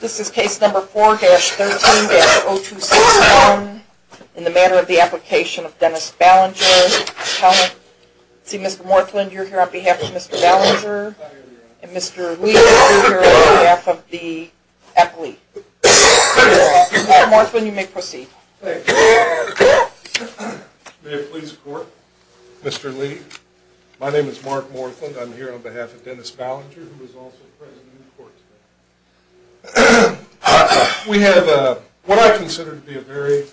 This is case number 4-13-0261 in the matter of the application of Dennis Ballinger. Mr. Morthland, you are here on behalf of Mr. Ballinger. And Mr. Lee, you are here on behalf of the appellee. Mr. Morthland, you may proceed. May it please the court. Mr. Lee, my name is Mark Morthland. I'm here on behalf of Dennis Ballinger, who is also present in the court today. We have what I consider to be a very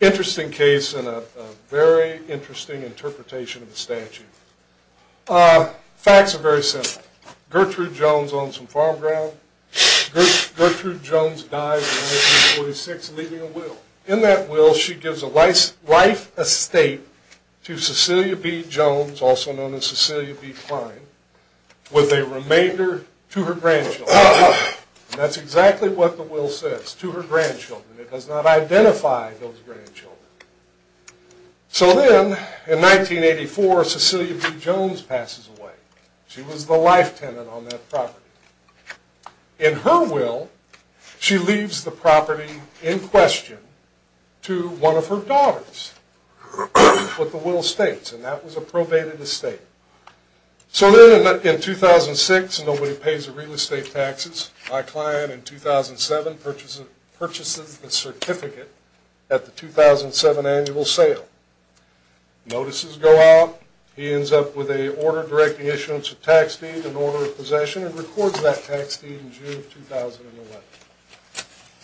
interesting case and a very interesting interpretation of the statute. Facts are very simple. Gertrude Jones owns some farm ground. Gertrude Jones died in 1946 leaving a will. In that will, she gives a life estate to Cecilia B. Jones, also known as Cecilia B. Klein, with a remainder to her grandchildren. That's exactly what the will says, to her grandchildren. It does not identify those grandchildren. So then, in 1984, Cecilia B. Jones passes away. She was the life tenant on that property. In her will, she leaves the property in question to one of her daughters. That's what the will states, and that was a probated estate. So then, in 2006, nobody pays the real estate taxes. My client, in 2007, purchases the certificate at the 2007 annual sale. Notices go out. He ends up with a order directing issuance of tax deed and order of possession and records that tax deed in June of 2011.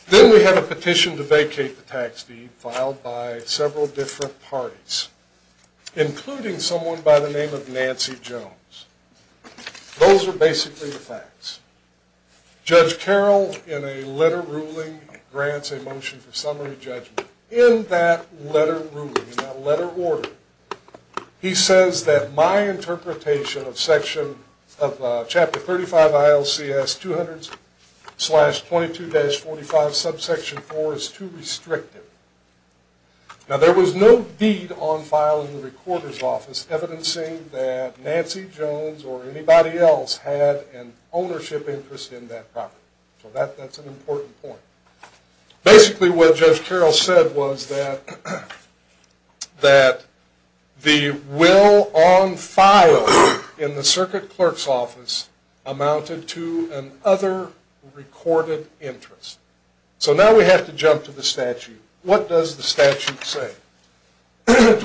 Then we have a petition to vacate the tax deed filed by several different parties, including someone by the name of Nancy Jones. Those are basically the facts. Judge Carroll, in a letter ruling, grants a motion for summary judgment. In that letter ruling, in that letter order, he says that my interpretation of chapter 35 ILCS 200-22-45 subsection 4 is too restrictive. Now, there was no deed on file in the recorder's office evidencing that Nancy Jones or anybody else had an ownership interest in that property. So that's an important point. Basically, what Judge Carroll said was that the will on file in the circuit clerk's office amounted to another recorded interest. So now we have to jump to the statute. What does the statute say? 20-22-45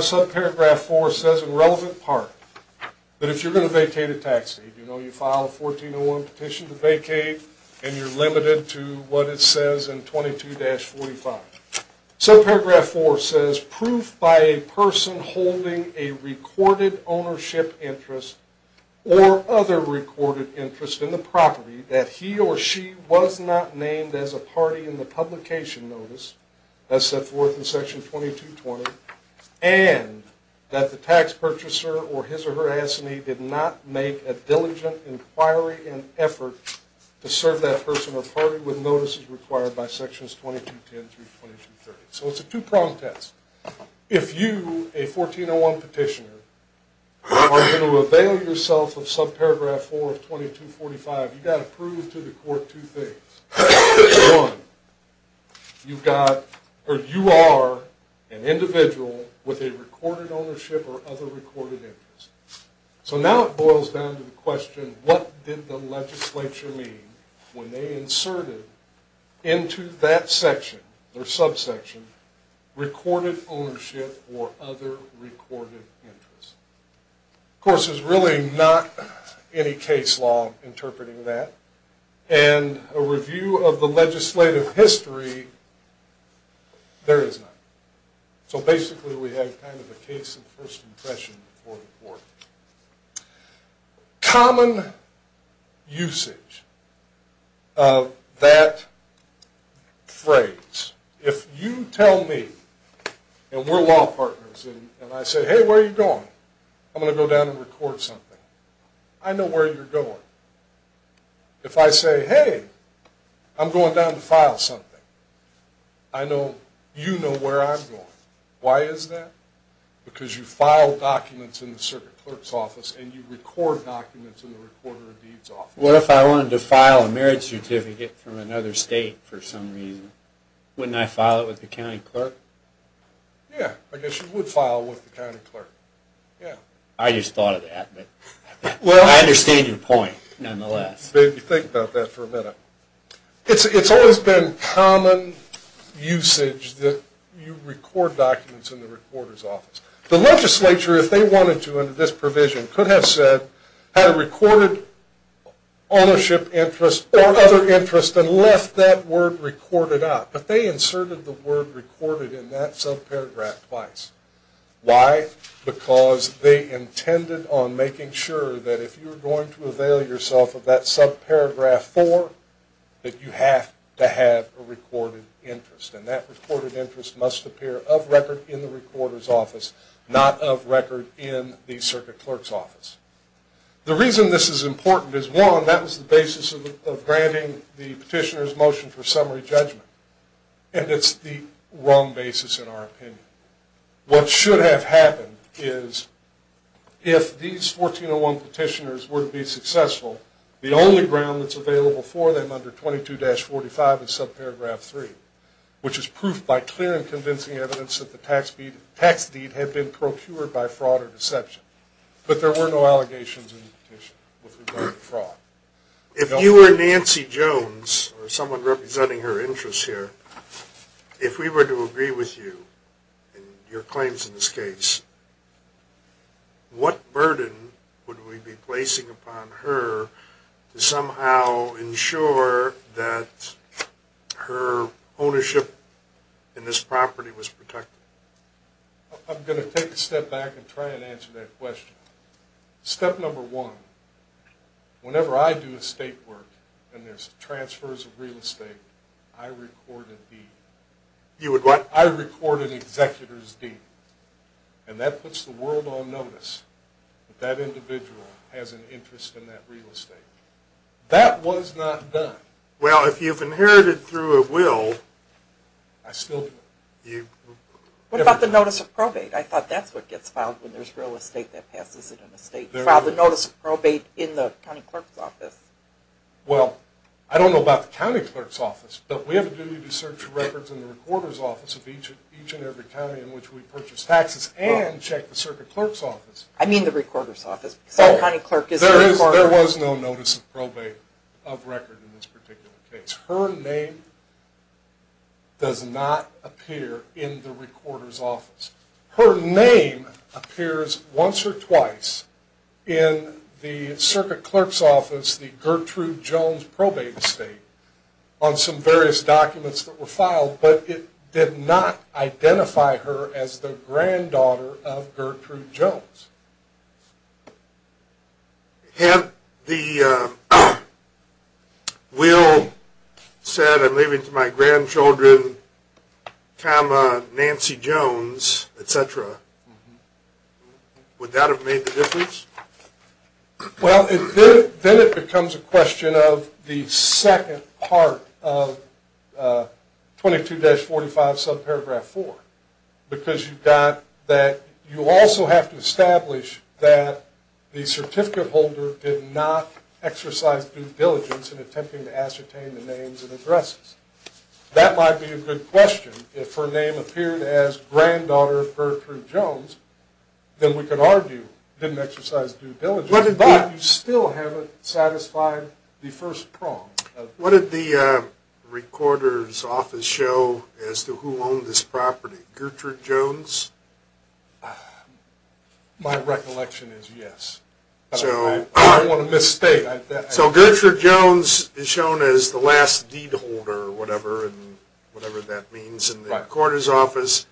subparagraph 4 says, in relevant part, that if you're going to vacate a tax deed, you file a 1401 petition to vacate, and you're limited to what it says in 22-45. Subparagraph 4 says, proof by a person holding a recorded ownership interest or other recorded interest in the property that he or she was not named as a party in the publication notice, as set forth in section 2220, and that the tax purchaser or his or her assignee did not make a diligent inquiry and effort to serve that person or party with notices required by sections 2210 through 2230. So it's a two-prong test. If you, a 1401 petitioner, are going to avail yourself of subparagraph 4 of 22-45, you've got to prove to the court two things. One, you are an individual with a recorded ownership or other recorded interest. So now it boils down to the question, what did the legislature mean when they inserted into that section, their subsection, recorded ownership or other recorded interest? Of course, there's really not any case law interpreting that. And a review of the legislative history, there is none. So basically, we have kind of a case of first impression for the court. Common usage of that phrase. If you tell me, and we're law partners, and I say, hey, where are you going? I'm going to go down and record something. I know where you're going. If I say, hey, I'm going down to file something, I know you know where I'm going. Why is that? Because you file documents in the circuit clerk's office and you record documents in the recorder of deeds office. What if I wanted to file a marriage certificate from another state for some reason? Wouldn't I file it with the county clerk? Yeah, I guess you would file with the county clerk. I just thought of that. I understand your point, nonetheless. Maybe think about that for a minute. It's always been common usage that you record documents in the recorder's office. The legislature, if they wanted to under this provision, could have said, had a recorded ownership interest or other interest and left that word recorded out. But they inserted the word recorded in that subparagraph twice. Why? Because they intended on making sure that if you were going to avail yourself of that subparagraph four, that you have to have a recorded interest. And that recorded interest must appear of record in the recorder's office, not of record in the circuit clerk's office. The reason this is important is, one, that was the basis of granting the petitioner's motion for summary judgment. And it's the wrong basis in our opinion. What should have happened is, if these 1401 petitioners were to be successful, the only ground that's available for them under 22-45 is subparagraph three, which is proof by clear and convincing evidence that the tax deed had been procured by fraud or deception. But there were no allegations in the petition with regard to fraud. If you were Nancy Jones, or someone representing her interests here, if we were to agree with you in your claims in this case, what burden would we be placing upon her to somehow ensure that her ownership in this property was protected? I'm going to take a step back and try and answer that question. Step number one, whenever I do estate work and there's transfers of real estate, I record a deed. I record an executor's deed. And that puts the world on notice that that individual has an interest in that real estate. That was not done. Well, if you've inherited through a will... I still do. What about the notice of probate? I thought that's what gets filed when there's real estate that passes it in the state. File the notice of probate in the county clerk's office. Well, I don't know about the county clerk's office, but we have a duty to search records in the recorder's office of each and every county in which we purchase taxes and check the circuit clerk's office. I mean the recorder's office. There was no notice of probate of record in this particular case. Her name does not appear in the recorder's office. Her name appears once or twice in the circuit clerk's office, the Gertrude Jones probate estate, on some various documents that were filed, but it did not identify her as the granddaughter of Gertrude Jones. Had the will said, I'm leaving it to my grandchildren, comma, Nancy Jones, et cetera, would that have made the difference? Well, then it becomes a question of the second part of 22-45, subparagraph 4. Because you've got that you also have to establish that the certificate holder did not exercise due diligence in attempting to ascertain the names and addresses. That might be a good question. If her name appeared as granddaughter of Gertrude Jones, then we could argue didn't exercise due diligence. But you still haven't satisfied the first prong. What did the recorder's office show as to who owned this property? Gertrude Jones? My recollection is yes. I don't want to misstate. So Gertrude Jones is shown as the last deed holder, or whatever that means, in the recorder's office,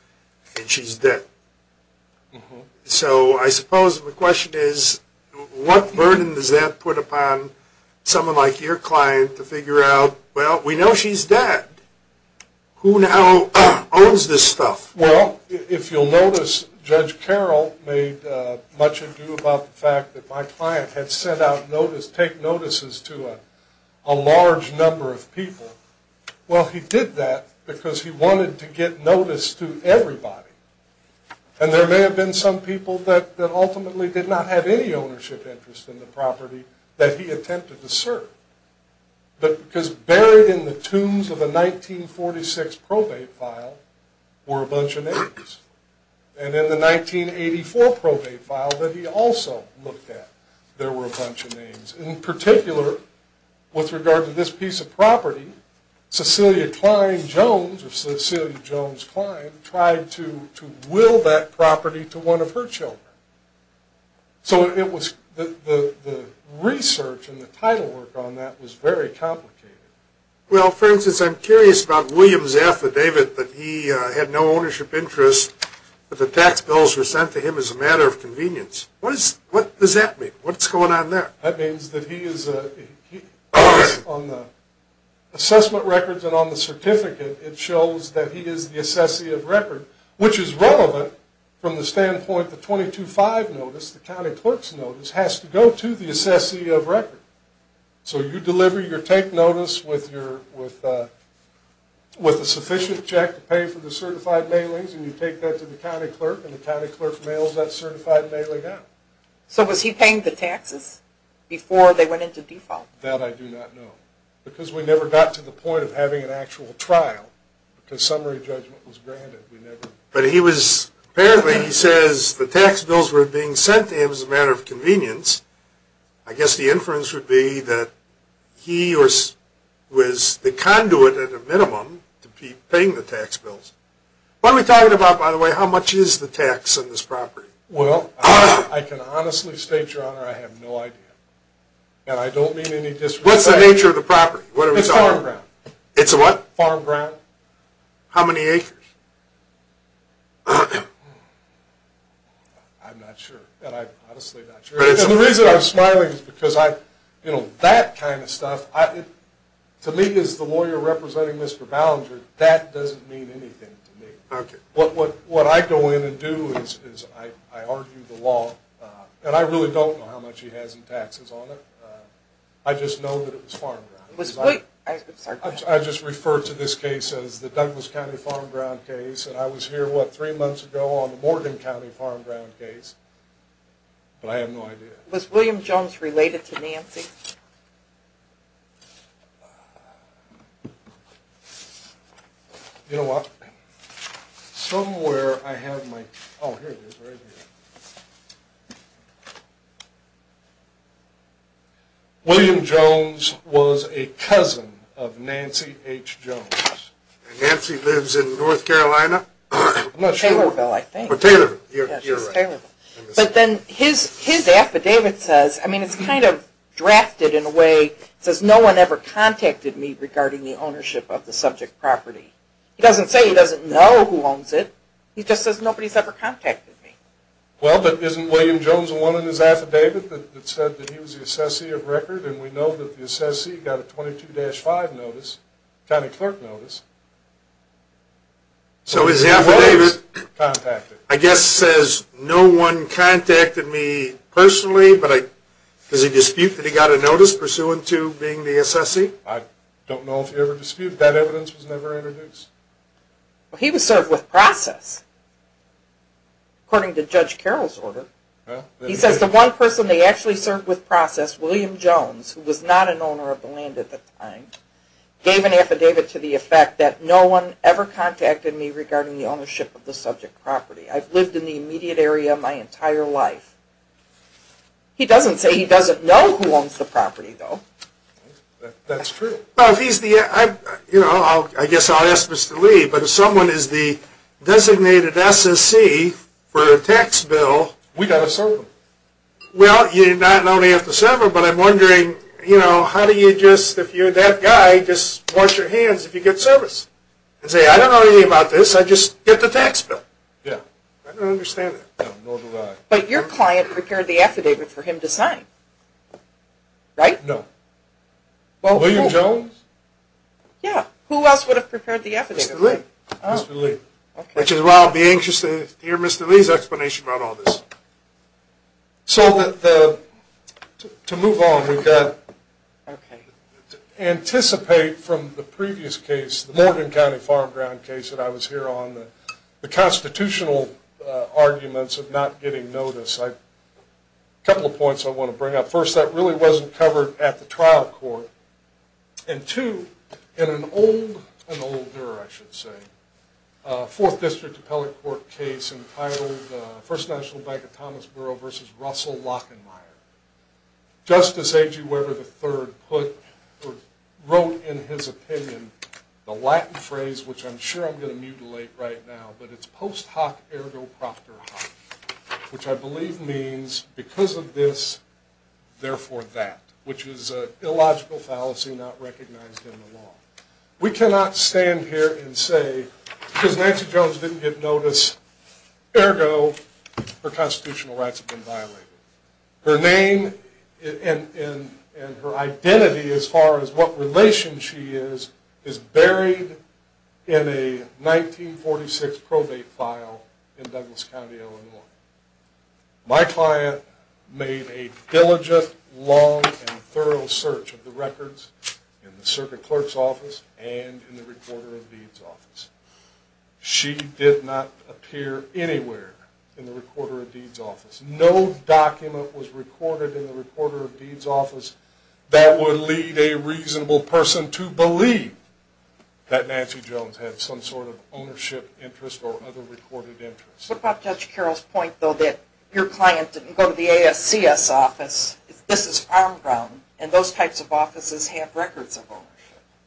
and she's dead. So I suppose the question is, what burden does that put upon someone like your client to figure out, well, we know she's dead. Who now owns this stuff? Well, if you'll notice, Judge Carroll made much ado about the fact that my client had sent out take notices to a large number of people. Well, he did that because he wanted to get notice to everybody. And there may have been some people that ultimately did not have any ownership interest in the property that he attempted to serve. But because buried in the tombs of a 1946 probate file were a bunch of names. And in the 1984 probate file that he also looked at, there were a bunch of names. In particular, with regard to this piece of property, Cecilia Cline Jones, or Cecilia Jones Cline, tried to will that property to one of her children. So the research and the title work on that was very complicated. Well, for instance, I'm curious about William's affidavit that he had no ownership interest, but the tax bills were sent to him as a matter of convenience. What does that mean? What's going on there? That means that he is, on the assessment records and on the certificate, it shows that he is the assessee of record, which is relevant from the standpoint the 22-5 notice, the county clerk's notice, has to go to the assessee of record. So you deliver your take notice with a sufficient check to pay for the certified mailings, and you take that to the county clerk, and the county clerk mails that certified mailing out. So was he paying the taxes before they went into default? That I do not know, because we never got to the point of having an actual trial, because summary judgment was granted. But he was, apparently he says the tax bills were being sent to him as a matter of convenience. I guess the inference would be that he was the conduit, at a minimum, to be paying the tax bills. What are we talking about, by the way, how much is the tax on this property? Well, I can honestly state, Your Honor, I have no idea. And I don't mean any disrespect. What's the nature of the property? It's a farm ground. It's a what? Farm ground. How many acres? I'm not sure, and I'm honestly not sure. And the reason I'm smiling is because I, you know, that kind of stuff, to me, as the lawyer representing Mr. Ballinger, that doesn't mean anything to me. Okay. What I go in and do is I argue the law, and I really don't know how much he has in taxes on it. I just know that it was farm ground. I just refer to this case as the Douglas County Farm Ground case, and I was here, what, three months ago on the Morgan County Farm Ground case, but I have no idea. Was William Jones related to Nancy? You know what? Somewhere I have my, oh, here it is, right here. William Jones was a cousin of Nancy H. Jones. And Nancy lives in North Carolina? I'm not sure. Taylorville, I think. Taylorville. You're right. But then his affidavit says, I mean, it's kind of drafted in a way, it says no one ever contacted me regarding the ownership of the subject property. He doesn't say he doesn't know who owns it. He just says nobody's ever contacted me. Well, but isn't William Jones the one in his affidavit that said that he was the assessee of record? And we know that the assessee got a 22-5 notice, county clerk notice. So his affidavit, I guess, says no one contacted me personally, but does he dispute that he got a notice pursuant to being the assessee? I don't know if he ever disputed. That evidence was never introduced. Well, he was served with process, according to Judge Carroll's order. He says the one person they actually served with process, William Jones, who was not an owner of the land at the time, gave an affidavit to the effect that no one ever contacted me regarding the ownership of the subject property. I've lived in the immediate area my entire life. He doesn't say he doesn't know who owns the property, though. That's true. Well, if he's the, you know, I guess I'll ask Mr. Lee, but if someone is the designated SSC for a tax bill... We've got to serve them. Well, you're not only have to serve them, but I'm wondering, you know, how do you just, if you're that guy, just wash your hands if you get service? And say, I don't know anything about this, I just get the tax bill. Yeah. I don't understand that. No, nor do I. But your client prepared the affidavit for him to sign, right? No. Well, who? William Jones? Yeah. Who else would have prepared the affidavit for him? Mr. Lee. Which is why I'll be anxious to hear Mr. Lee's explanation about all this. So, to move on, we've got to anticipate from the previous case, the Morgan County Farm Ground case that I was here on, the constitutional arguments of not getting notice. A couple of points I want to bring up. First, that really wasn't covered at the trial court. And two, in an old, an older, I should say, fourth district appellate court case entitled First National Bank of Thomas Borough versus Russell Lockenmyer. Justice A.G. Weber III wrote in his opinion the Latin phrase, which I'm sure I'm going to mutilate right now, but it's post hoc ergo proctor hoc, which I believe means because of this, therefore that, which is an illogical fallacy not recognized in the law. We cannot stand here and say because Nancy Jones didn't get notice, ergo her constitutional rights have been violated. Her name and her identity as far as what relation she is, is buried in a 1946 probate file in Douglas County, Illinois. My client made a diligent, long, and thorough search of the records in the circuit clerk's office and in the recorder of deeds office. She did not appear anywhere in the recorder of deeds office. No document was recorded in the recorder of deeds office that would lead a reasonable person to believe that Nancy Jones had some sort of ownership interest or other recorded interest. What about Judge Carroll's point, though, that your client didn't go to the ASCS office? This is farm ground, and those types of offices have records of ownership.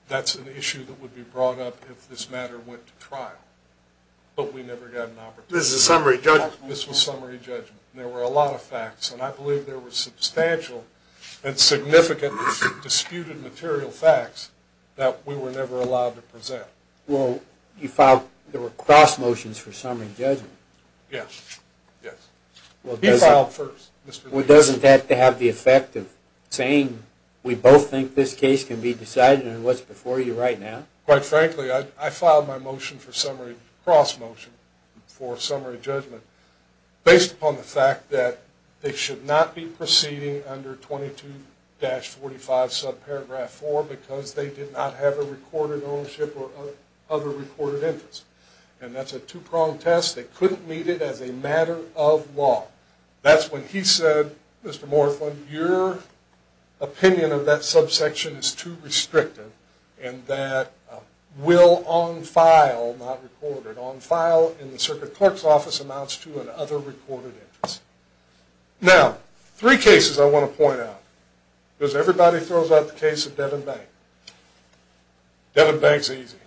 That's an issue that would be brought up if this matter went to trial, but we never got an opportunity. This is a summary judgment. This was summary judgment. There were a lot of facts, and I believe there were substantial and significant disputed material facts that we were never allowed to present. Well, you filed, there were cross motions for summary judgment. Yes. Yes. He filed first. Well, doesn't that have the effect of saying we both think this case can be decided and it was before you right now? Quite frankly, I filed my motion for summary cross motion for summary judgment based upon the fact that they should not be proceeding under 22-45 subparagraph 4 because they did not have a recorded ownership or other recorded interest, and that's a two-pronged test. They couldn't meet it as a matter of law. That's when he said, Mr. Morthland, your opinion of that subsection is too restrictive and that will on file, not recorded, on file in the circuit clerk's office amounts to an other recorded interest. Now, three cases I want to point out because everybody throws out the case of Devin Bank. Devin Bank's easy.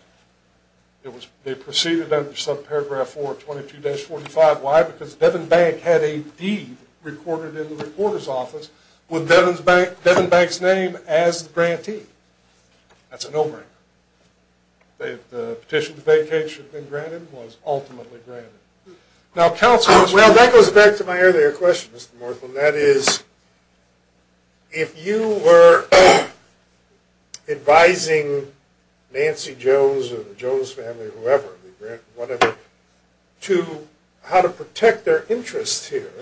They proceeded under subparagraph 4 of 22-45. Why? Because Devin Bank had a deed recorded in the reporter's office with Devin Bank's name as the grantee. That's a no-brainer. The petition to vacate should have been granted and was ultimately granted. Now, counsel, as well. Well, that goes back to my earlier question, Mr. Morthland. That is, if you were advising Nancy Jones or the Jones family or whoever, to how to protect their interests here,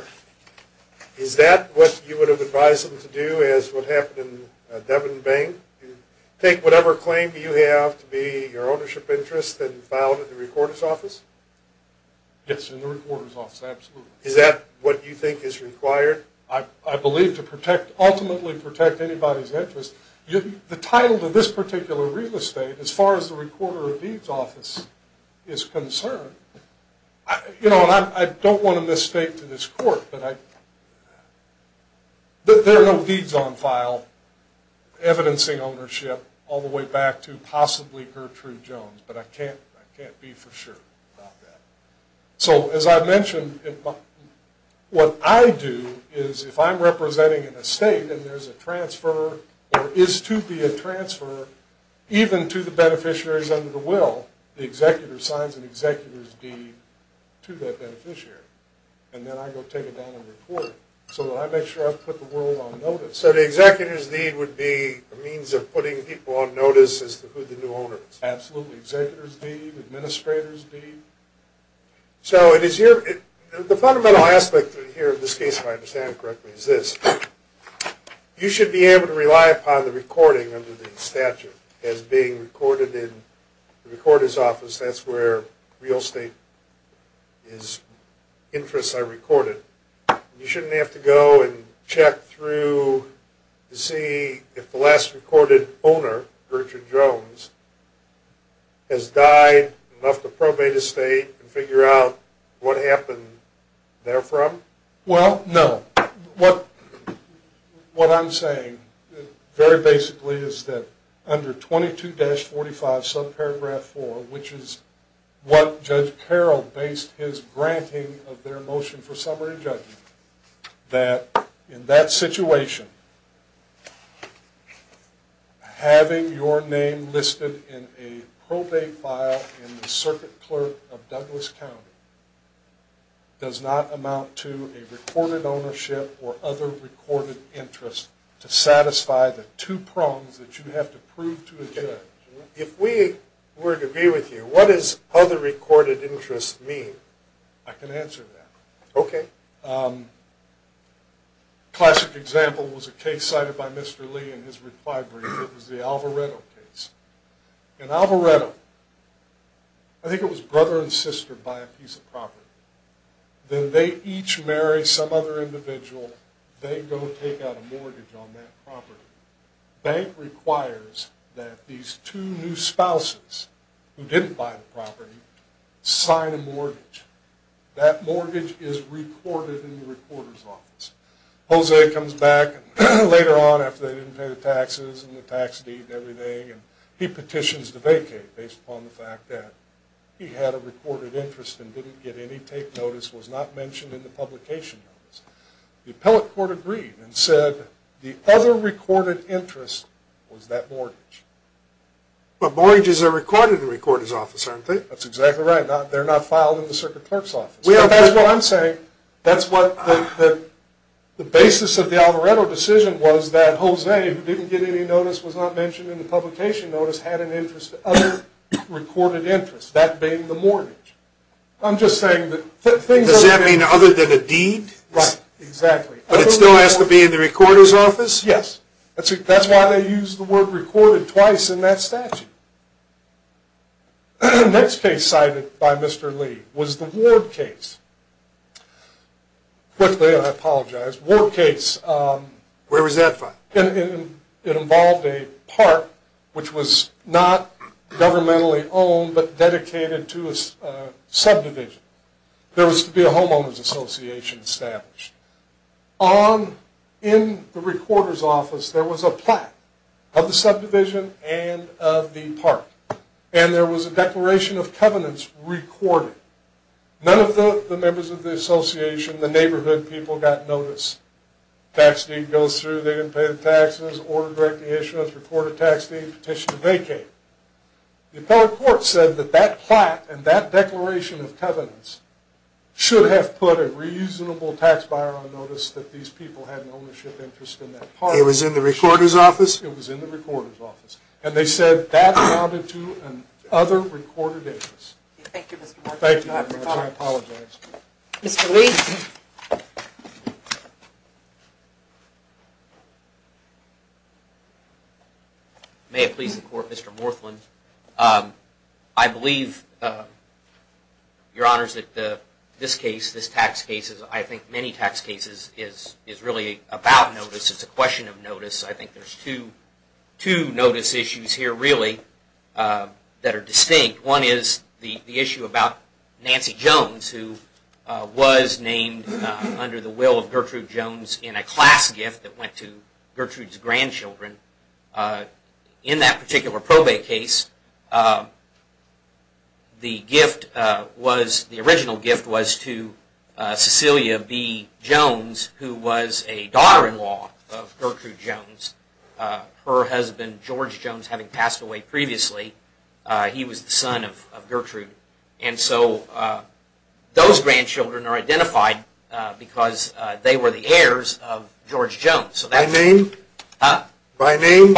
is that what you would have advised them to do as what happened in Devin Bank? Take whatever claim you have to be your ownership interest and file it in the recorder's office? Yes, in the recorder's office. Absolutely. Is that what you think is required? I believe to ultimately protect anybody's interest. The title to this particular real estate, as far as the recorder of deeds office is concerned, I don't want to mistake to this court, but there are no deeds on file evidencing ownership all the way back to possibly Gertrude Jones. But I can't be for sure about that. So as I've mentioned, what I do is if I'm representing an estate and there's a transfer or is to be a transfer even to the beneficiaries under the will, the executor signs an executor's deed to that beneficiary. And then I go take it down and record it so that I make sure I've put the world on notice. So the executor's deed would be a means of putting people on notice as to who the new owner is? Absolutely. Executor's deed, administrator's deed. So the fundamental aspect here of this case, if I understand it correctly, is this. You should be able to rely upon the recording under the statute as being recorded in the recorder's office. That's where real estate interests are recorded. You shouldn't have to go and check through to see if the last recorded owner, Gertrude Jones, has died, left the probate estate, and figure out what happened therefrom? Well, no. What I'm saying very basically is that under 22-45 subparagraph 4, which is what Judge Carroll based his granting of their motion for summary judgment, that in that situation, having your name listed in a probate file in the circuit clerk of Douglas to satisfy the two prongs that you have to prove to a judge. If we were to agree with you, what does other recorded interests mean? I can answer that. Okay. A classic example was a case cited by Mr. Lee in his reply brief. It was the Alvareto case. In Alvareto, I think it was brother and sister buy a piece of property. Then they each marry some other individual. They go take out a mortgage on that property. Bank requires that these two new spouses, who didn't buy the property, sign a mortgage. That mortgage is recorded in the recorder's office. Jose comes back later on after they didn't pay the taxes and the tax deed and everything, and he petitions to vacate based upon the fact that he had a The appellate court agreed and said the other recorded interest was that mortgage. But mortgages are recorded in the recorder's office, aren't they? That's exactly right. They're not filed in the circuit clerk's office. That's what I'm saying. The basis of the Alvareto decision was that Jose, who didn't get any notice, was not mentioned in the publication notice, had other recorded interests. That being the mortgage. Does that mean other than a deed? Right. Exactly. But it still has to be in the recorder's office? Yes. That's why they used the word recorded twice in that statute. The next case cited by Mr. Lee was the Ward case. Where was that filed? It involved a park, which was not governmentally owned, but dedicated to a subdivision. There was to be a homeowner's association established. In the recorder's office, there was a plaque of the subdivision and of the park. And there was a declaration of covenants recorded. None of the members of the association, the neighborhood people, got notice. Tax deed goes through, they didn't pay the taxes. Order to direct the issuance, recorded tax deed, petition to vacate. The appellate court said that that plaque and that declaration of covenants should have put a reasonable tax buyer on notice that these people had an ownership interest in that park. It was in the recorder's office? It was in the recorder's office. And they said that amounted to other recorded interests. Thank you, Mr. Morgan. Thank you very much. I apologize. Mr. Lee? Thank you. May it please the Court, Mr. Morthland. I believe, Your Honors, that this case, this tax case, as I think many tax cases, is really about notice. It's a question of notice. I think there's two notice issues here, really, that are distinct. One is the issue about Nancy Jones, who was named under the will of Gertrude Jones in a class gift that went to Gertrude's grandchildren. In that particular probate case, the gift was, the original gift was to Cecilia B. Jones, who was a daughter-in-law of Gertrude Jones. Her husband, George Jones, having passed away previously, he was the son of Gertrude. And so those grandchildren are identified because they were the heirs of George Jones. By name? Huh? By name?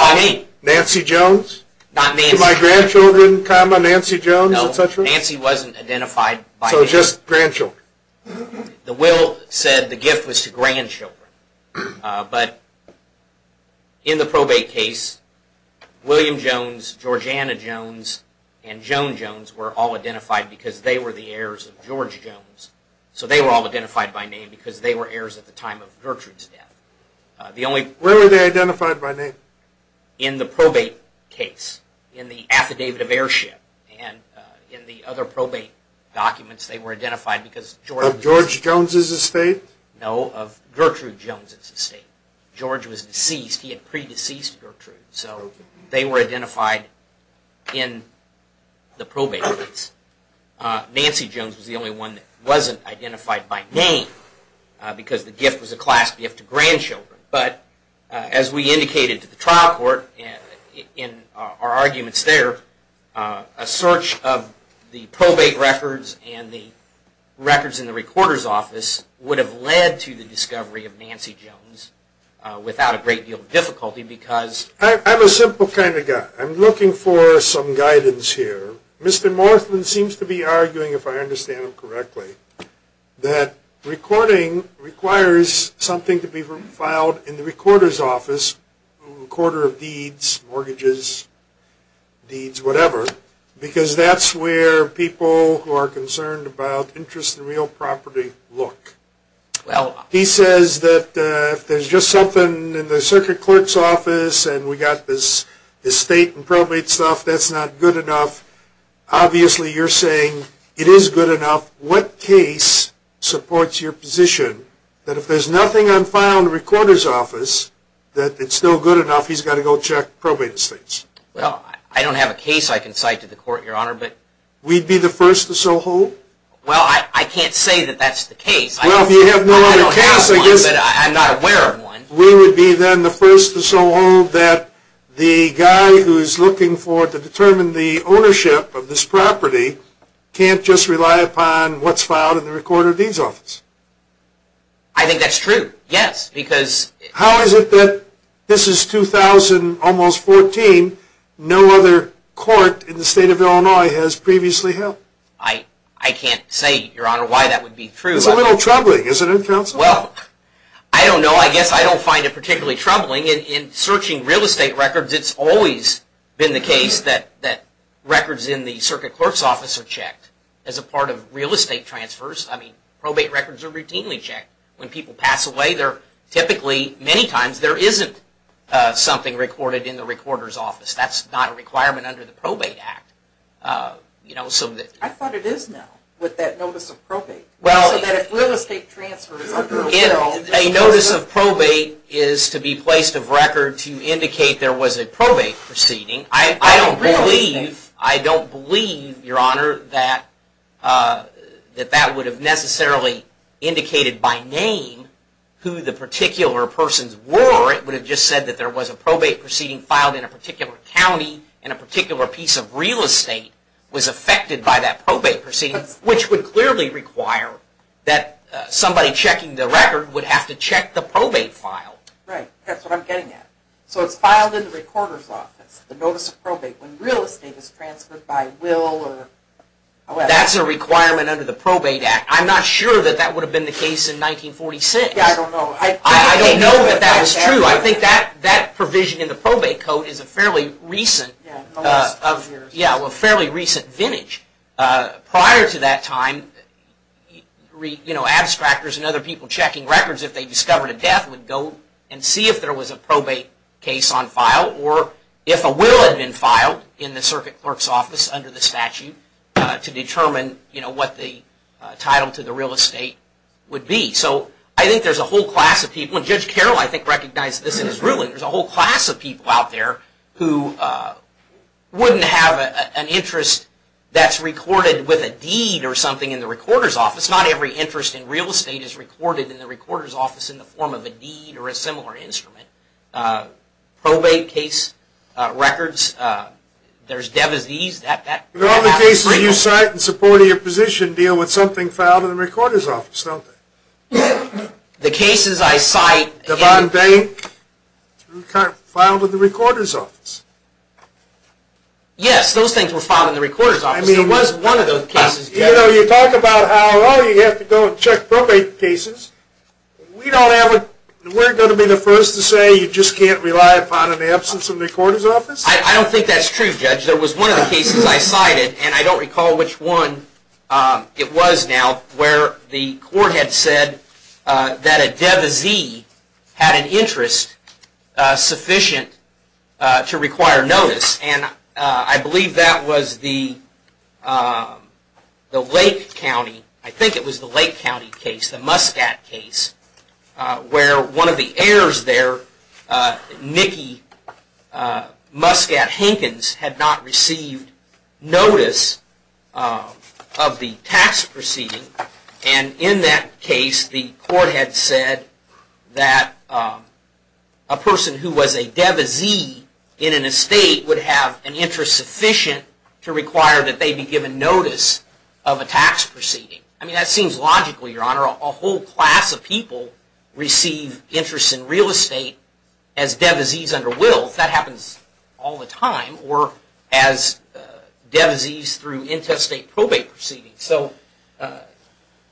Nancy Jones? Not Nancy. To my grandchildren, comma, Nancy Jones, et cetera? No, Nancy wasn't identified by name. So just grandchildren? The will said the gift was to grandchildren. But in the probate case, William Jones, Georgiana Jones, and Joan Jones were all identified because they were the heirs of George Jones. So they were all identified by name because they were heirs at the time of Gertrude's death. Where were they identified by name? In the probate case, in the affidavit of heirship, and in the other probate documents they were identified because George Jones Of George Jones' estate? No, of Gertrude Jones' estate. George was deceased. He had pre-deceased Gertrude. So they were identified in the probate case. Nancy Jones was the only one that wasn't identified by name because the gift was a class gift to grandchildren. But as we indicated to the trial court in our arguments there, would have led to the discovery of Nancy Jones without a great deal of difficulty because I'm a simple kind of guy. I'm looking for some guidance here. Mr. Morthman seems to be arguing, if I understand him correctly, that recording requires something to be filed in the recorder's office, recorder of deeds, mortgages, deeds, whatever, because that's where people who are concerned about interest in real property look. He says that if there's just something in the circuit clerk's office and we've got this estate and probate stuff, that's not good enough. Obviously, you're saying it is good enough. What case supports your position that if there's nothing on file in the recorder's office, that it's still good enough, he's got to go check probate estates? Well, I don't have a case I can cite to the court, Your Honor, but... We'd be the first to so hold? Well, I can't say that that's the case. Well, if you have no other case, I guess... I don't have one, but I'm not aware of one. We would be then the first to so hold that the guy who is looking for it to determine the ownership of this property can't just rely upon what's filed in the recorder of deeds office. I think that's true, yes, because... How is it that this is 2000, almost 14, no other court in the state of Illinois has previously held? I can't say, Your Honor, why that would be true. It's a little troubling, isn't it, counsel? Well, I don't know. I guess I don't find it particularly troubling. In searching real estate records, it's always been the case that records in the circuit clerk's office are checked. As a part of real estate transfers, I mean, probate records are routinely checked. When people pass away, typically, many times, there isn't something recorded in the recorder's office. That's not a requirement under the Probate Act. I thought it is now, with that notice of probate. So that if real estate transfers... A notice of probate is to be placed of record to indicate there was a probate proceeding. I don't believe, I don't believe, Your Honor, that that would have necessarily indicated by name who the particular persons were. It would have just said that there was a probate proceeding filed in a particular county, and a particular piece of real estate was affected by that probate proceeding, which would clearly require that somebody checking the record would have to check the probate file. Right. That's what I'm getting at. So it's filed in the recorder's office, the notice of probate. When real estate is transferred by will or... That's a requirement under the Probate Act. I'm not sure that that would have been the case in 1946. Yeah, I don't know. I don't know that that was true. I think that provision in the Probate Code is a fairly recent... Yeah, in the last 10 years. Yeah, a fairly recent vintage. Prior to that time, abstractors and other people checking records if they discovered a death would go and see if there was a probate case on file, or if a will had been filed in the circuit clerk's office under the statute to determine what the title to the real estate would be. So I think there's a whole class of people, and Judge Carroll, I think, recognized this in his ruling. There's a whole class of people out there who wouldn't have an interest that's recorded with a deed or something in the recorder's office. Not every interest in real estate is recorded in the recorder's office in the form of a deed or a similar instrument. Probate case records, there's devisees... But all the cases you cite in support of your position deal with something filed in the recorder's office, don't they? The cases I cite... Filed in the recorder's office? Yes, those things were filed in the recorder's office. It was one of those cases. You know, you talk about how, oh, you have to go and check probate cases. We're going to be the first to say you just can't rely upon an absence in the recorder's office? I don't think that's true, Judge. There was one of the cases I cited, and I don't recall which one it was now, where the court had said that a devisee had an interest sufficient to require notice. And I believe that was the Lake County... I think it was the Lake County case, the Muscat case, where one of the heirs there, Nikki Muscat-Hankins, had not received notice of the tax proceeding. And in that case, the court had said that a person who was a devisee in an estate would have an interest sufficient to require that they be given notice of a tax proceeding. I mean, that seems logical, Your Honor. A whole class of people receive interest in real estate as devisees under will. That happens all the time. Or as devisees through intestate probate proceedings. So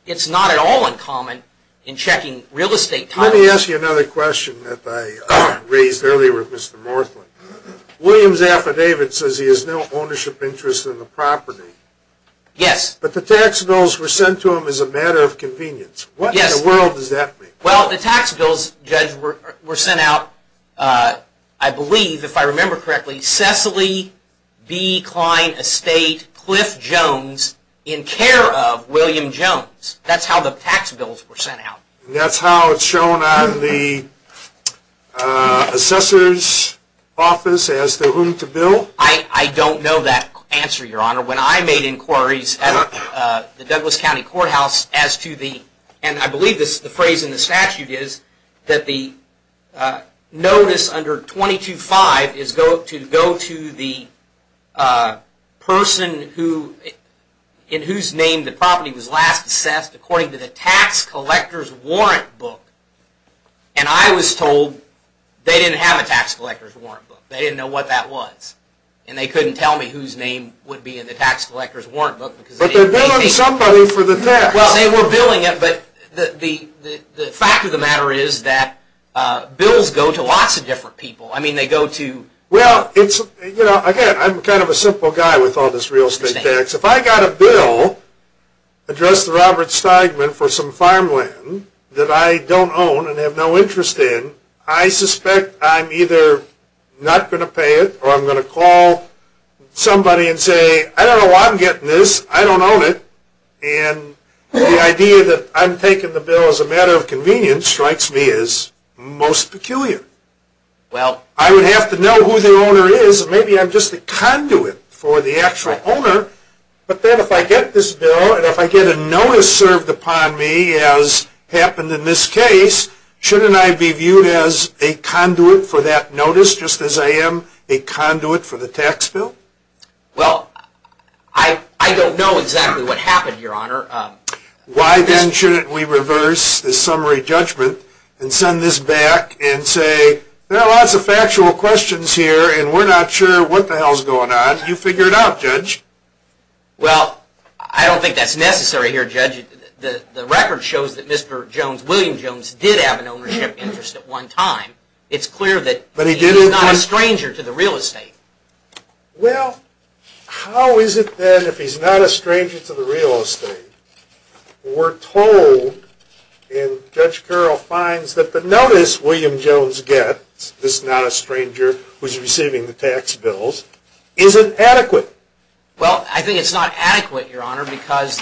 it's not at all uncommon in checking real estate titles. Let me ask you another question that I raised earlier with Mr. Morthland. Williams' affidavit says he has no ownership interest in the property. Yes. But the tax bills were sent to him as a matter of convenience. What in the world does that mean? Well, the tax bills, Judge, were sent out, I believe, if I remember correctly, Cecily B. Klein Estate, Cliff Jones, in care of William Jones. That's how the tax bills were sent out. And that's how it's shown on the assessor's office as to whom to bill? I don't know that answer, Your Honor. When I made inquiries at the Douglas County Courthouse as to the, and I believe the phrase in the statute is, that the notice under 22-5 is to go to the person in whose name the property was last assessed according to the tax collector's warrant book. And I was told they didn't have a tax collector's warrant book. They didn't know what that was. And they couldn't tell me whose name would be in the tax collector's warrant book. But they're billing somebody for the tax. Well, they were billing it, but the fact of the matter is that bills go to lots of different people. I mean, they go to... Again, I'm kind of a simple guy with all this real estate tax. If I got a bill addressed to Robert Steigman for some farmland that I don't own and have no interest in, I suspect I'm either not going to pay it or I'm going to call somebody and say, I don't know why I'm getting this. I don't own it. And the idea that I'm taking the bill as a matter of convenience strikes me as most peculiar. I would have to know who the owner is and maybe I'm just a conduit for the actual owner. But then if I get this bill and if I get a notice served upon me, as happened in this case, shouldn't I be viewed as a conduit for that notice, just as I am a conduit for the tax bill? Well, I don't know exactly what happened, Your Honor. Why then shouldn't we reverse this summary judgment and send this back and say, there are lots of factual questions here and we're not sure what the hell's going on. You figure it out, Judge. Well, I don't think that's necessary here, Judge. The record shows that Mr. Jones, William Jones, did have an ownership interest at one time. It's clear that he's not a stranger to the real estate. Well, how is it then if he's not a stranger to the real estate? We're told, and Judge Carroll finds, that the notice William Jones gets, this not a stranger who's receiving the tax bills, isn't adequate. Well, I think it's not adequate, Your Honor, because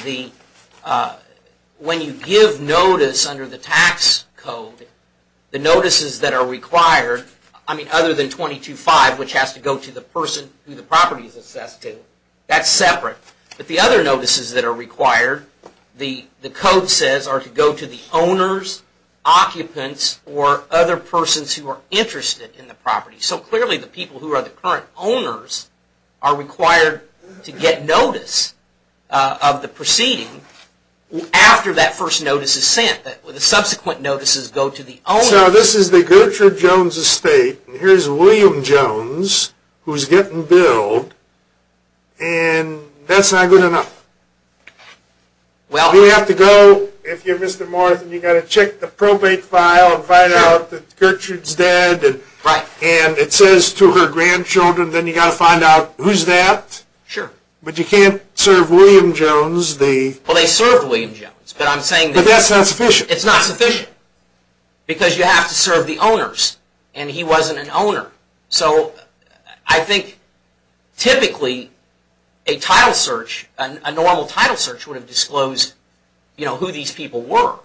when you give notice under the tax code, the notices that are required, I mean, other than 22-5, which has to go to the person who the property is assessed to, that's separate. But the other notices that are required, the code says, are to go to the owners, occupants, or other persons who are interested in the property. So clearly the people who are the current owners are required to get notice of the proceeding after that first notice is sent. So this is the Gertrude Jones estate, and here's William Jones, who's getting billed, and that's not good enough. Well, you have to go, if you're Mr. Morrison, you've got to check the probate file and find out that Gertrude's dead, and it says to her grandchildren, then you've got to find out who's that. But you can't serve William Jones the... Well, they served William Jones, but I'm saying But that's not sufficient. It's not sufficient. Because you have to serve the owners, and he wasn't an owner. So I think typically a title search, a normal title search would have disclosed who these people were.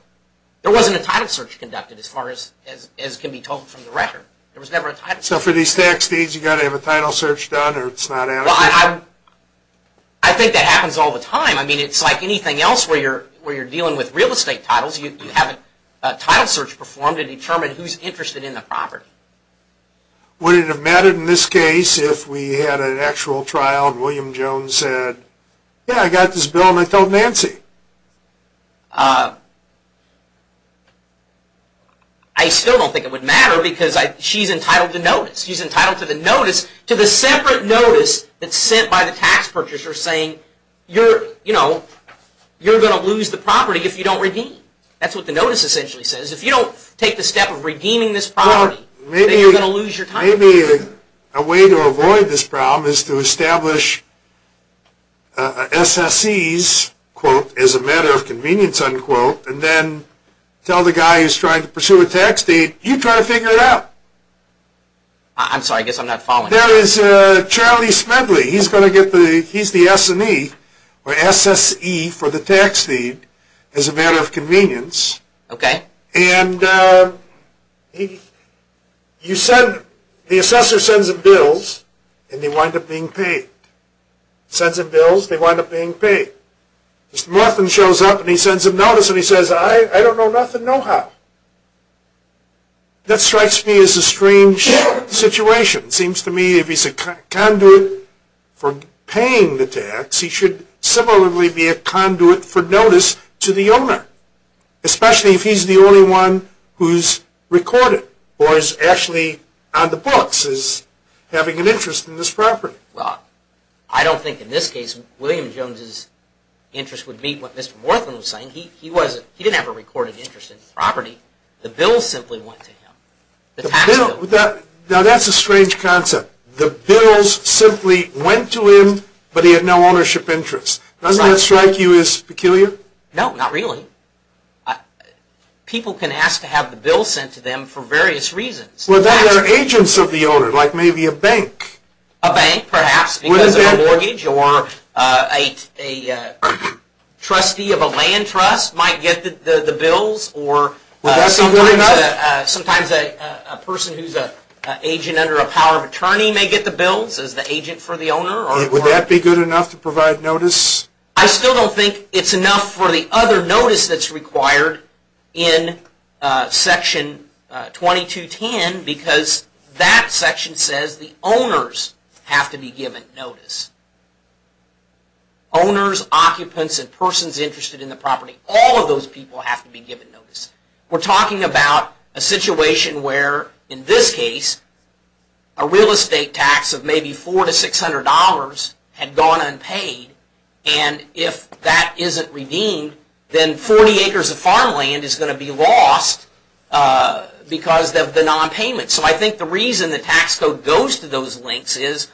There wasn't a title search conducted as far as can be told from the record. There was never a title search. So for these tax deeds, you've got to have a title search done or it's not adequate? Well, I think that happens all the time. I mean, it's like anything else where you're dealing with real estate titles. You have a title search performed to determine who's interested in the property. Would it have mattered in this case if we had an actual trial and William Jones said, yeah, I got this bill and I told Nancy? I still don't think it would matter because she's entitled to notice. She's entitled to the notice, to the separate notice that's sent by the tax purchaser saying you're going to lose the property if you don't redeem it. That's what the notice essentially says. If you don't take the step of redeeming this property, then you're going to lose your title. Maybe a way to avoid this problem is to establish SSEs as a matter of convenience and then tell the guy who's trying to pursue a tax deed you try to figure it out. I'm sorry, I guess I'm not following. There is Charlie Smedley. He's the SSE or SSE for the tax deed as a matter of convenience and the assessor sends him bills and they wind up being paid. Mr. Morphin shows up and he sends him notice and he says, I don't know nothing, know how. That strikes me as a strange situation. It seems to me if he's a conduit for paying the tax, he should similarly be a conduit for notice to the owner. Especially if he's the only one who's recorded or is actually on the books as having an interest in this property. I don't think in this case William Jones's interest would meet what Mr. Morphin was saying. He didn't have a recorded interest in this property. The bills simply went to him. Now that's a strange concept. The bills simply went to him but he had no ownership interest. Doesn't that strike you as peculiar? No, not really. People can ask to have the bill sent to them for various reasons. Well then they're agents of the owner, like maybe a bank. A bank perhaps because of a mortgage or a trustee of a land trust might get the bills or sometimes a person who's an agent under a power of attorney may get the bills as the agent for the owner. Would that be good enough to provide notice? I still don't think it's enough for the other notice that's required in section 2210 because that section says the owners have to be given notice. Owners, occupants and persons interested in the property, all of those people have to be given notice. We're talking about a situation where in this case a real estate tax of maybe $400 to $600 had gone unpaid and if that isn't redeemed then 40 acres of farmland is going to be lost because of the nonpayment. So I think the reason the tax code goes to those links is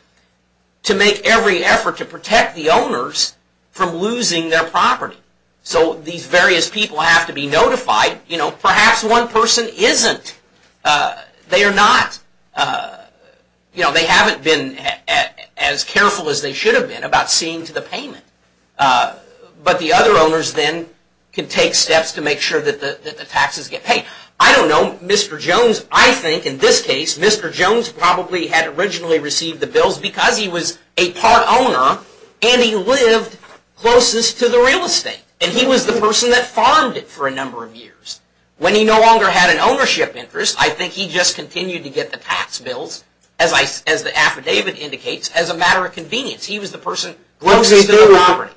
to make every effort to protect the owners from losing their property. So these various people have to be notified. Perhaps one person isn't. They haven't been as careful as they should have been about seeing to the payment. But the other owners then can take steps to make sure that the taxes get paid. I don't know. Mr. Jones, I think in this case, Mr. Jones probably had originally received the bills because he was a part owner and he lived closest to the real estate. And he was the person that farmed it for a number of years. When he no longer had an ownership interest, I think he just continued to get the tax bills, as the affidavit indicates, as a matter of convenience. He was the person closest to the property.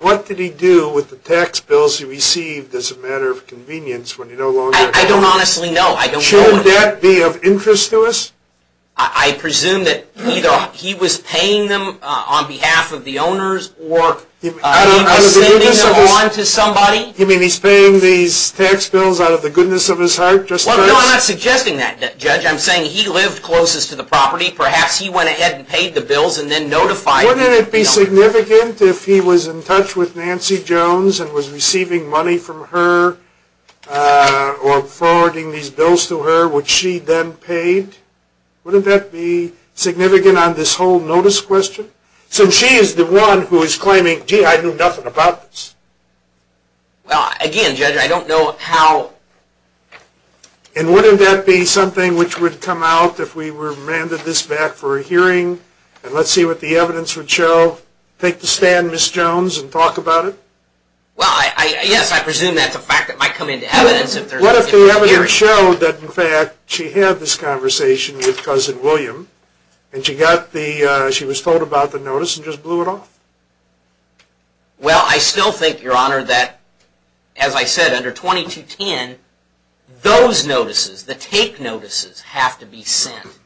What did he do with the tax bills he received as a matter of convenience when he no longer had the property? I don't honestly know. Should that be of interest to us? I presume that either he was paying them on behalf of the owners or he was sending them on to somebody. You mean he's paying these tax bills out of the goodness of his heart? No, I'm not suggesting that, Judge. I'm saying he lived closest to the property. Perhaps he went ahead and paid the bills and then notified... Wouldn't it be significant if he was in touch with Nancy Jones and was receiving money from her or forwarding these bills to her, which she then paid? Wouldn't that be significant on this whole notice question? So she is the one who is claiming, gee, I knew nothing about this. Well, again, Judge, I don't know how... And wouldn't that be something which would come out if we were to render this back for a hearing and let's see what the evidence would show? Take the stand, Ms. Jones, and talk about it? Well, yes, I presume that's a fact that might come into evidence if there's a hearing. What if the evidence showed that, in fact, she had this conversation with Cousin William and she was told about the notice and just blew it off? Well, I still think, Your Honor, that, as I said, under 2210, those notices, the take notices, have to be sent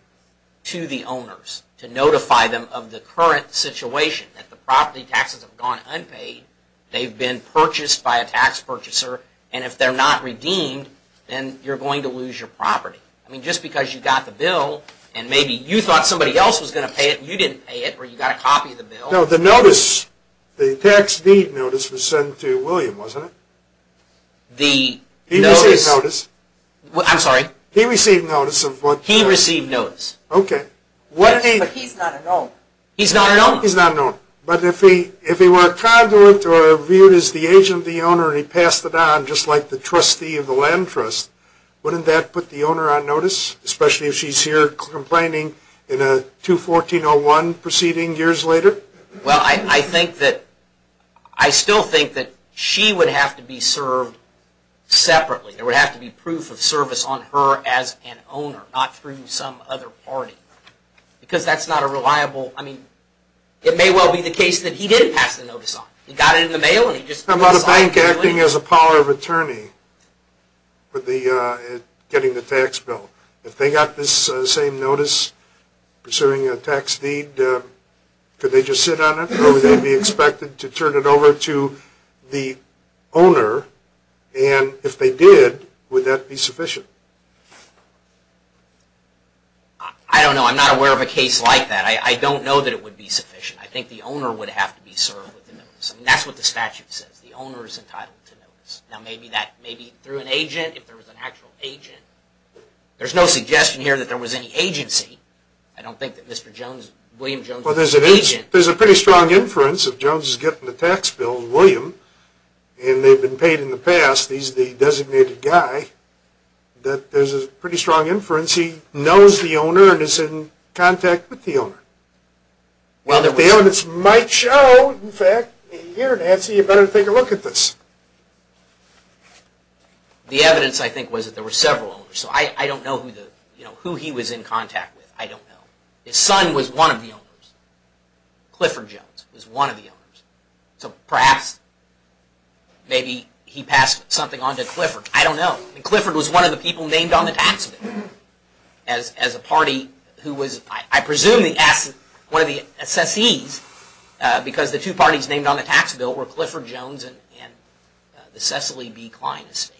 to the owners to notify them of the current situation that the property taxes have gone unpaid, they've been purchased by a tax purchaser, and if they're not redeemed, then you're going to lose your property. I mean, just because you got the bill and maybe you thought somebody else was going to pay it and you didn't pay it or you got a copy of the bill... No, the notice, the tax deed notice was sent to William, wasn't it? He received notice of what... He received notice. Yes, but he's not an owner. He's not an owner. But if he were a conduit or viewed as the agent of the owner and he passed it on just like the trustee of the land trust, wouldn't that put the owner on notice, especially if she's here complaining in a 214-01 proceeding years later? Well, I think that I still think that she would have to be served separately. There would have to be proof of service on her as an owner, not through some other party. Because that's not a reliable... It may well be the case that he did pass the notice on. He got it in the mail and he just... How about a bank acting as a power of attorney getting the tax bill? If they got this same notice pursuing a tax deed, could they just sit on it or would they be expected to turn it over to the owner? And if they did, would that be sufficient? I don't know. I'm not aware of a case like that. I don't know that it would be sufficient. I think the owner would have to be served with the notice. That's what the statute says. The owner is entitled to notice. Now, maybe through an agent, if there was an actual agent. There's no suggestion here that there was any agency. I don't think that Mr. Jones, William Jones was an agent. Well, there's a pretty strong inference if Jones is getting the tax bill as William and they've been paid in the past. He's the designated guy. There's a pretty strong inference he knows the owner and is in contact with the owner. The evidence might show, in fact, here, Nancy, you better take a look at this. The evidence, I think, was that there were several owners. I don't know who he was in contact with. I don't know. His son was one of the owners. Clifford Jones was one of the owners. So, perhaps, maybe he passed something on to Clifford. I don't know. Clifford was one of the people named on the tax bill as a party who was, I presume, one of the assessees because the two parties named on the tax bill were Clifford Jones and the Cecily B. Klein estate.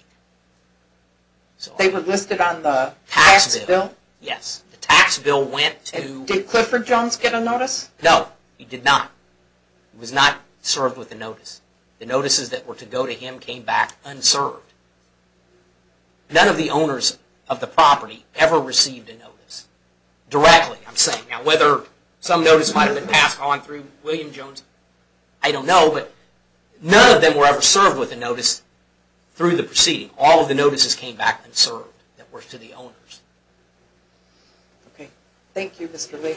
They were listed on the tax bill? Yes. The tax bill went to... And did Clifford Jones get a notice? No, he did not. He was not served with a notice. The notices that were to go to him came back unserved. None of the owners of the property ever received a notice directly, I'm saying. Now, whether some notice might have been passed on through William Jones, I don't know, but none of them were ever served with a notice through the proceeding. All of the notices came back unserved that were to the owners. Okay. Thank you, Mr. Lee.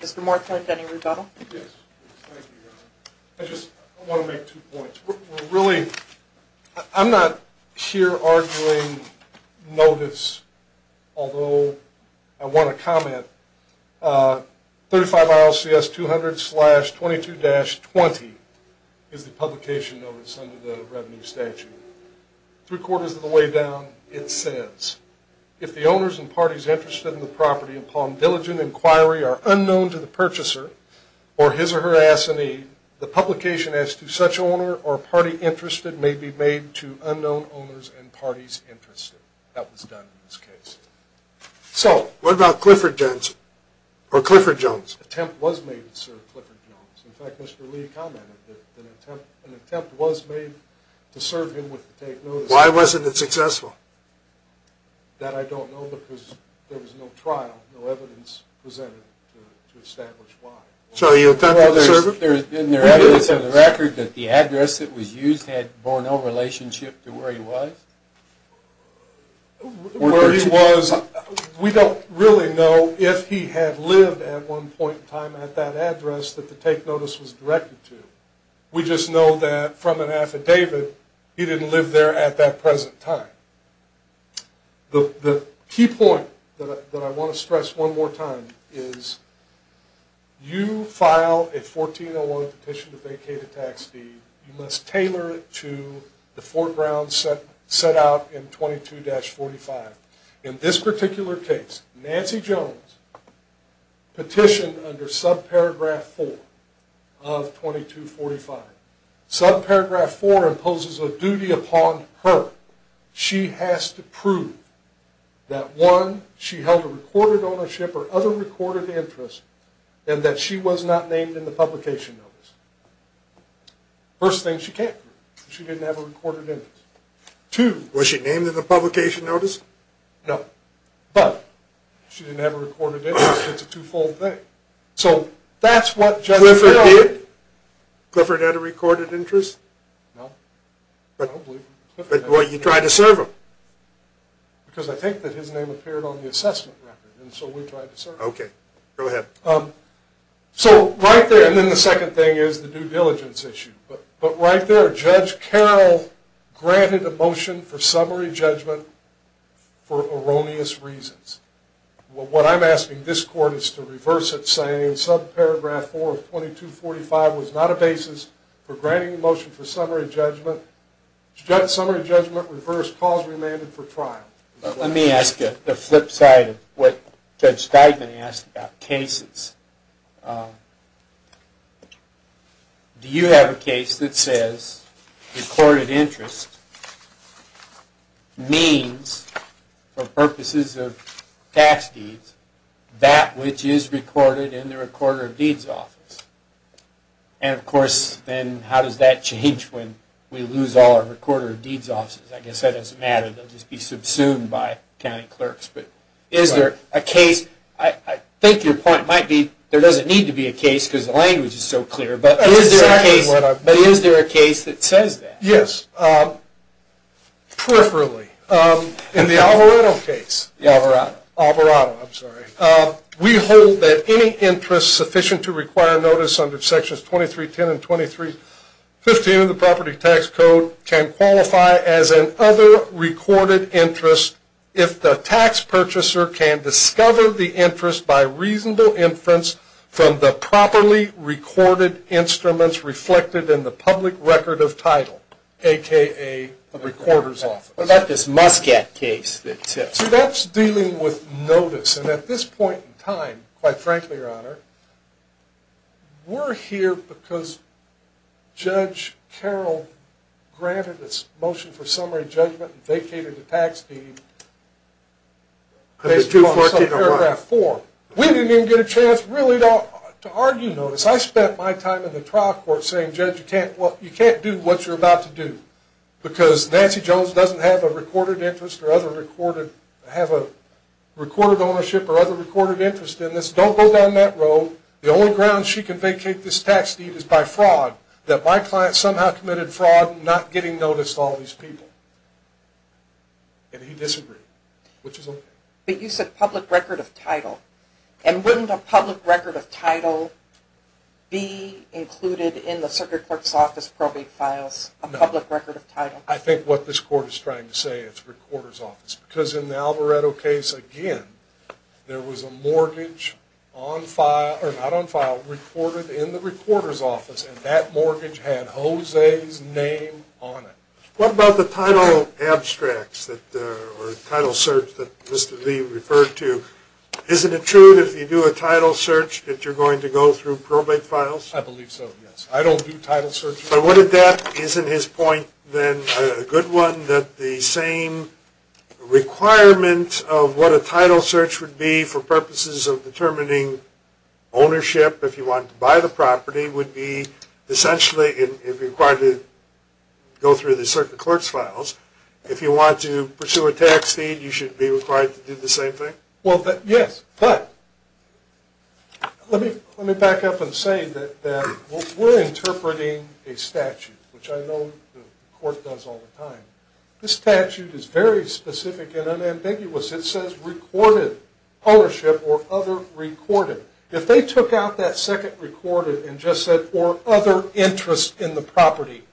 Mr. Morton, any rebuttal? I just want to make two points. Really, I'm not here arguing notice, although I want to comment. 35 ILCS 200-22-20 is the publication notice under the revenue statute. Three quarters of the way down, it says, if the owners and parties interested in the property upon diligent inquiry are unknown to the purchaser or his or her assignee, the publication as to such owner or party interested may be made to unknown owners and parties interested. That was done in this case. So, what about Clifford Jones? Or Clifford Jones? An attempt was made to serve Clifford Jones. In fact, Mr. Lee commented that an attempt was made to serve him with the take notice. Why wasn't it successful? That I don't know because there was no trial, no evidence presented to establish why. So, he attempted to serve him? Isn't there evidence on the record that the address that was used had borne no relationship to where he was? Where he was, we don't really know if he had lived at one point in time at that address that the take notice was directed to. We just know that from an affidavit, he didn't live there at that present time. The key point that I want to stress one more time is you file a 1401 petition to vacate a tax deed, you must tailor it to the foreground set out in 22-45. In this particular case, Nancy Jones petitioned under subparagraph 4 of 22-45. Subparagraph 4 imposes a duty upon her. She has to prove that 1. She held a recorded ownership or other recorded interest and that she was not named in the publication notice. First thing, she can't prove she didn't have a recorded interest. 2. Was she named in the publication notice? No. But she didn't have a recorded interest. It's a two-fold thing. Clifford had a recorded interest? No. But you tried to serve him. Because I think that his name appeared on the assessment record and so we tried to serve him. So right there, and then the second thing is the due diligence issue. But right there, Judge Carroll granted a motion for summary judgment for erroneous reasons. What I'm asking this court is to reverse it saying subparagraph 4 of 22-45 was not a basis for granting a motion for summary judgment. Summary judgment reversed. Cause remanded for trial. Let me ask you the flip side of what Judge Steigman asked about cases. Do you have a case that says recorded interest means for purposes of tax deeds that which is recorded in the recorder of deeds office? And of course, then how does that change when we lose all our recorder of deeds offices? I guess that doesn't matter. They'll just be subsumed by county clerks. But is there a case I think your point might be there doesn't need to be a case because the language is so clear. But is there a case that says that? Yes. Peripherally. In the Alvarado case we hold that any interest sufficient to require notice under sections 2310 and 2315 of the property tax code can qualify as an other recorded interest if the tax purchaser can discover the interest by reasonable inference from the properly recorded instruments reflected in the public record of title, a.k.a. the recorder's office. What about this Muscat case? That's dealing with notice. And at this point in time quite frankly, Your Honor we're here because Judge Carroll granted this motion for summary judgment and vacated the tax deed based upon paragraph 4. We didn't even get a chance really to argue notice. I spent my time in the trial court saying Judge, you can't do what you're about to do because Nancy Jones doesn't have a recorded interest or other recorded ownership or other recorded interest in this. Don't go down that road. The only ground she can vacate this tax deed is by fraud. That my client somehow committed fraud not getting notice of all these people. And he disagreed. But you said public record of title. And wouldn't a public record of title be included in the circuit court's office probate files? A public record of title? I think what this court is trying to say is recorder's office because in the Alvarado case, again, there was a mortgage on file, or not on file recorded in the recorder's office and that mortgage had Jose's name on it. What about the title abstracts or title search that Mr. Lee referred to? Isn't it true that if you do a title search that you're going to go through probate files? I believe so, yes. I don't do title searches. But isn't his point then a good one that the same requirement of what a title search would be for purposes of determining ownership if you wanted to buy the property would be essentially if you're required to go through the circuit court's files. If you want to pursue a tax deed, you should be required to do the same thing? Well, yes. But let me back up and say that we're interpreting a statute, which I know the court does all the time. This statute is very specific and unambiguous. It says recorded ownership or other recorded. If they took out that second recorded and just said or other interest in the property,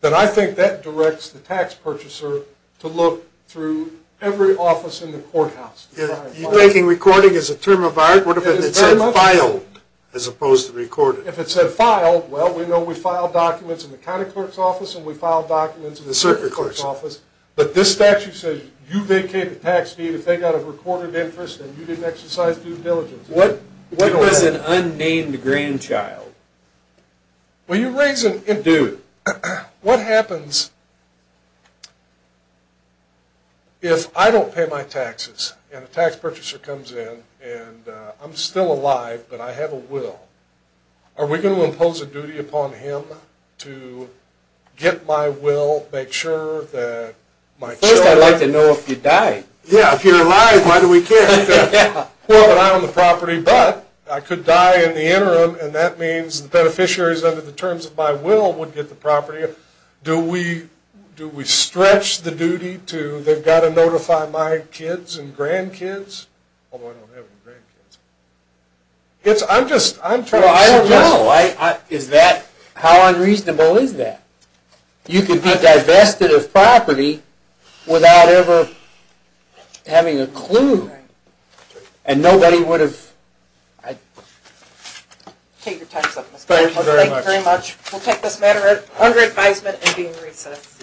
then I think that directs the tax purchaser to look through every office in the courthouse. You're taking recording as a term of art? What if it said filed as opposed to recorded? If it said filed, well we know we file documents in the county clerk's office and we file documents in the circuit clerk's office. But this statute says you vacate the tax deed if they got a recorded interest and you didn't exercise due diligence. What if it was an unnamed grandchild? When you raise a dude, what happens if I don't pay my taxes and a tax purchaser comes in and I'm still alive but I have a will? Are we going to impose a duty upon him to get my will, make sure that First I'd like to know if you died. Yeah, if you're alive, why do we care? But I could die in the interim and that means the beneficiaries under the terms of my will would get the property. Do we stretch the duty to they've got to notify my kids and grandkids? I don't know. How unreasonable is that? You can be divested of property without ever having a clue and nobody would have Thank you very much. We'll take this matter under advisement and be in recess.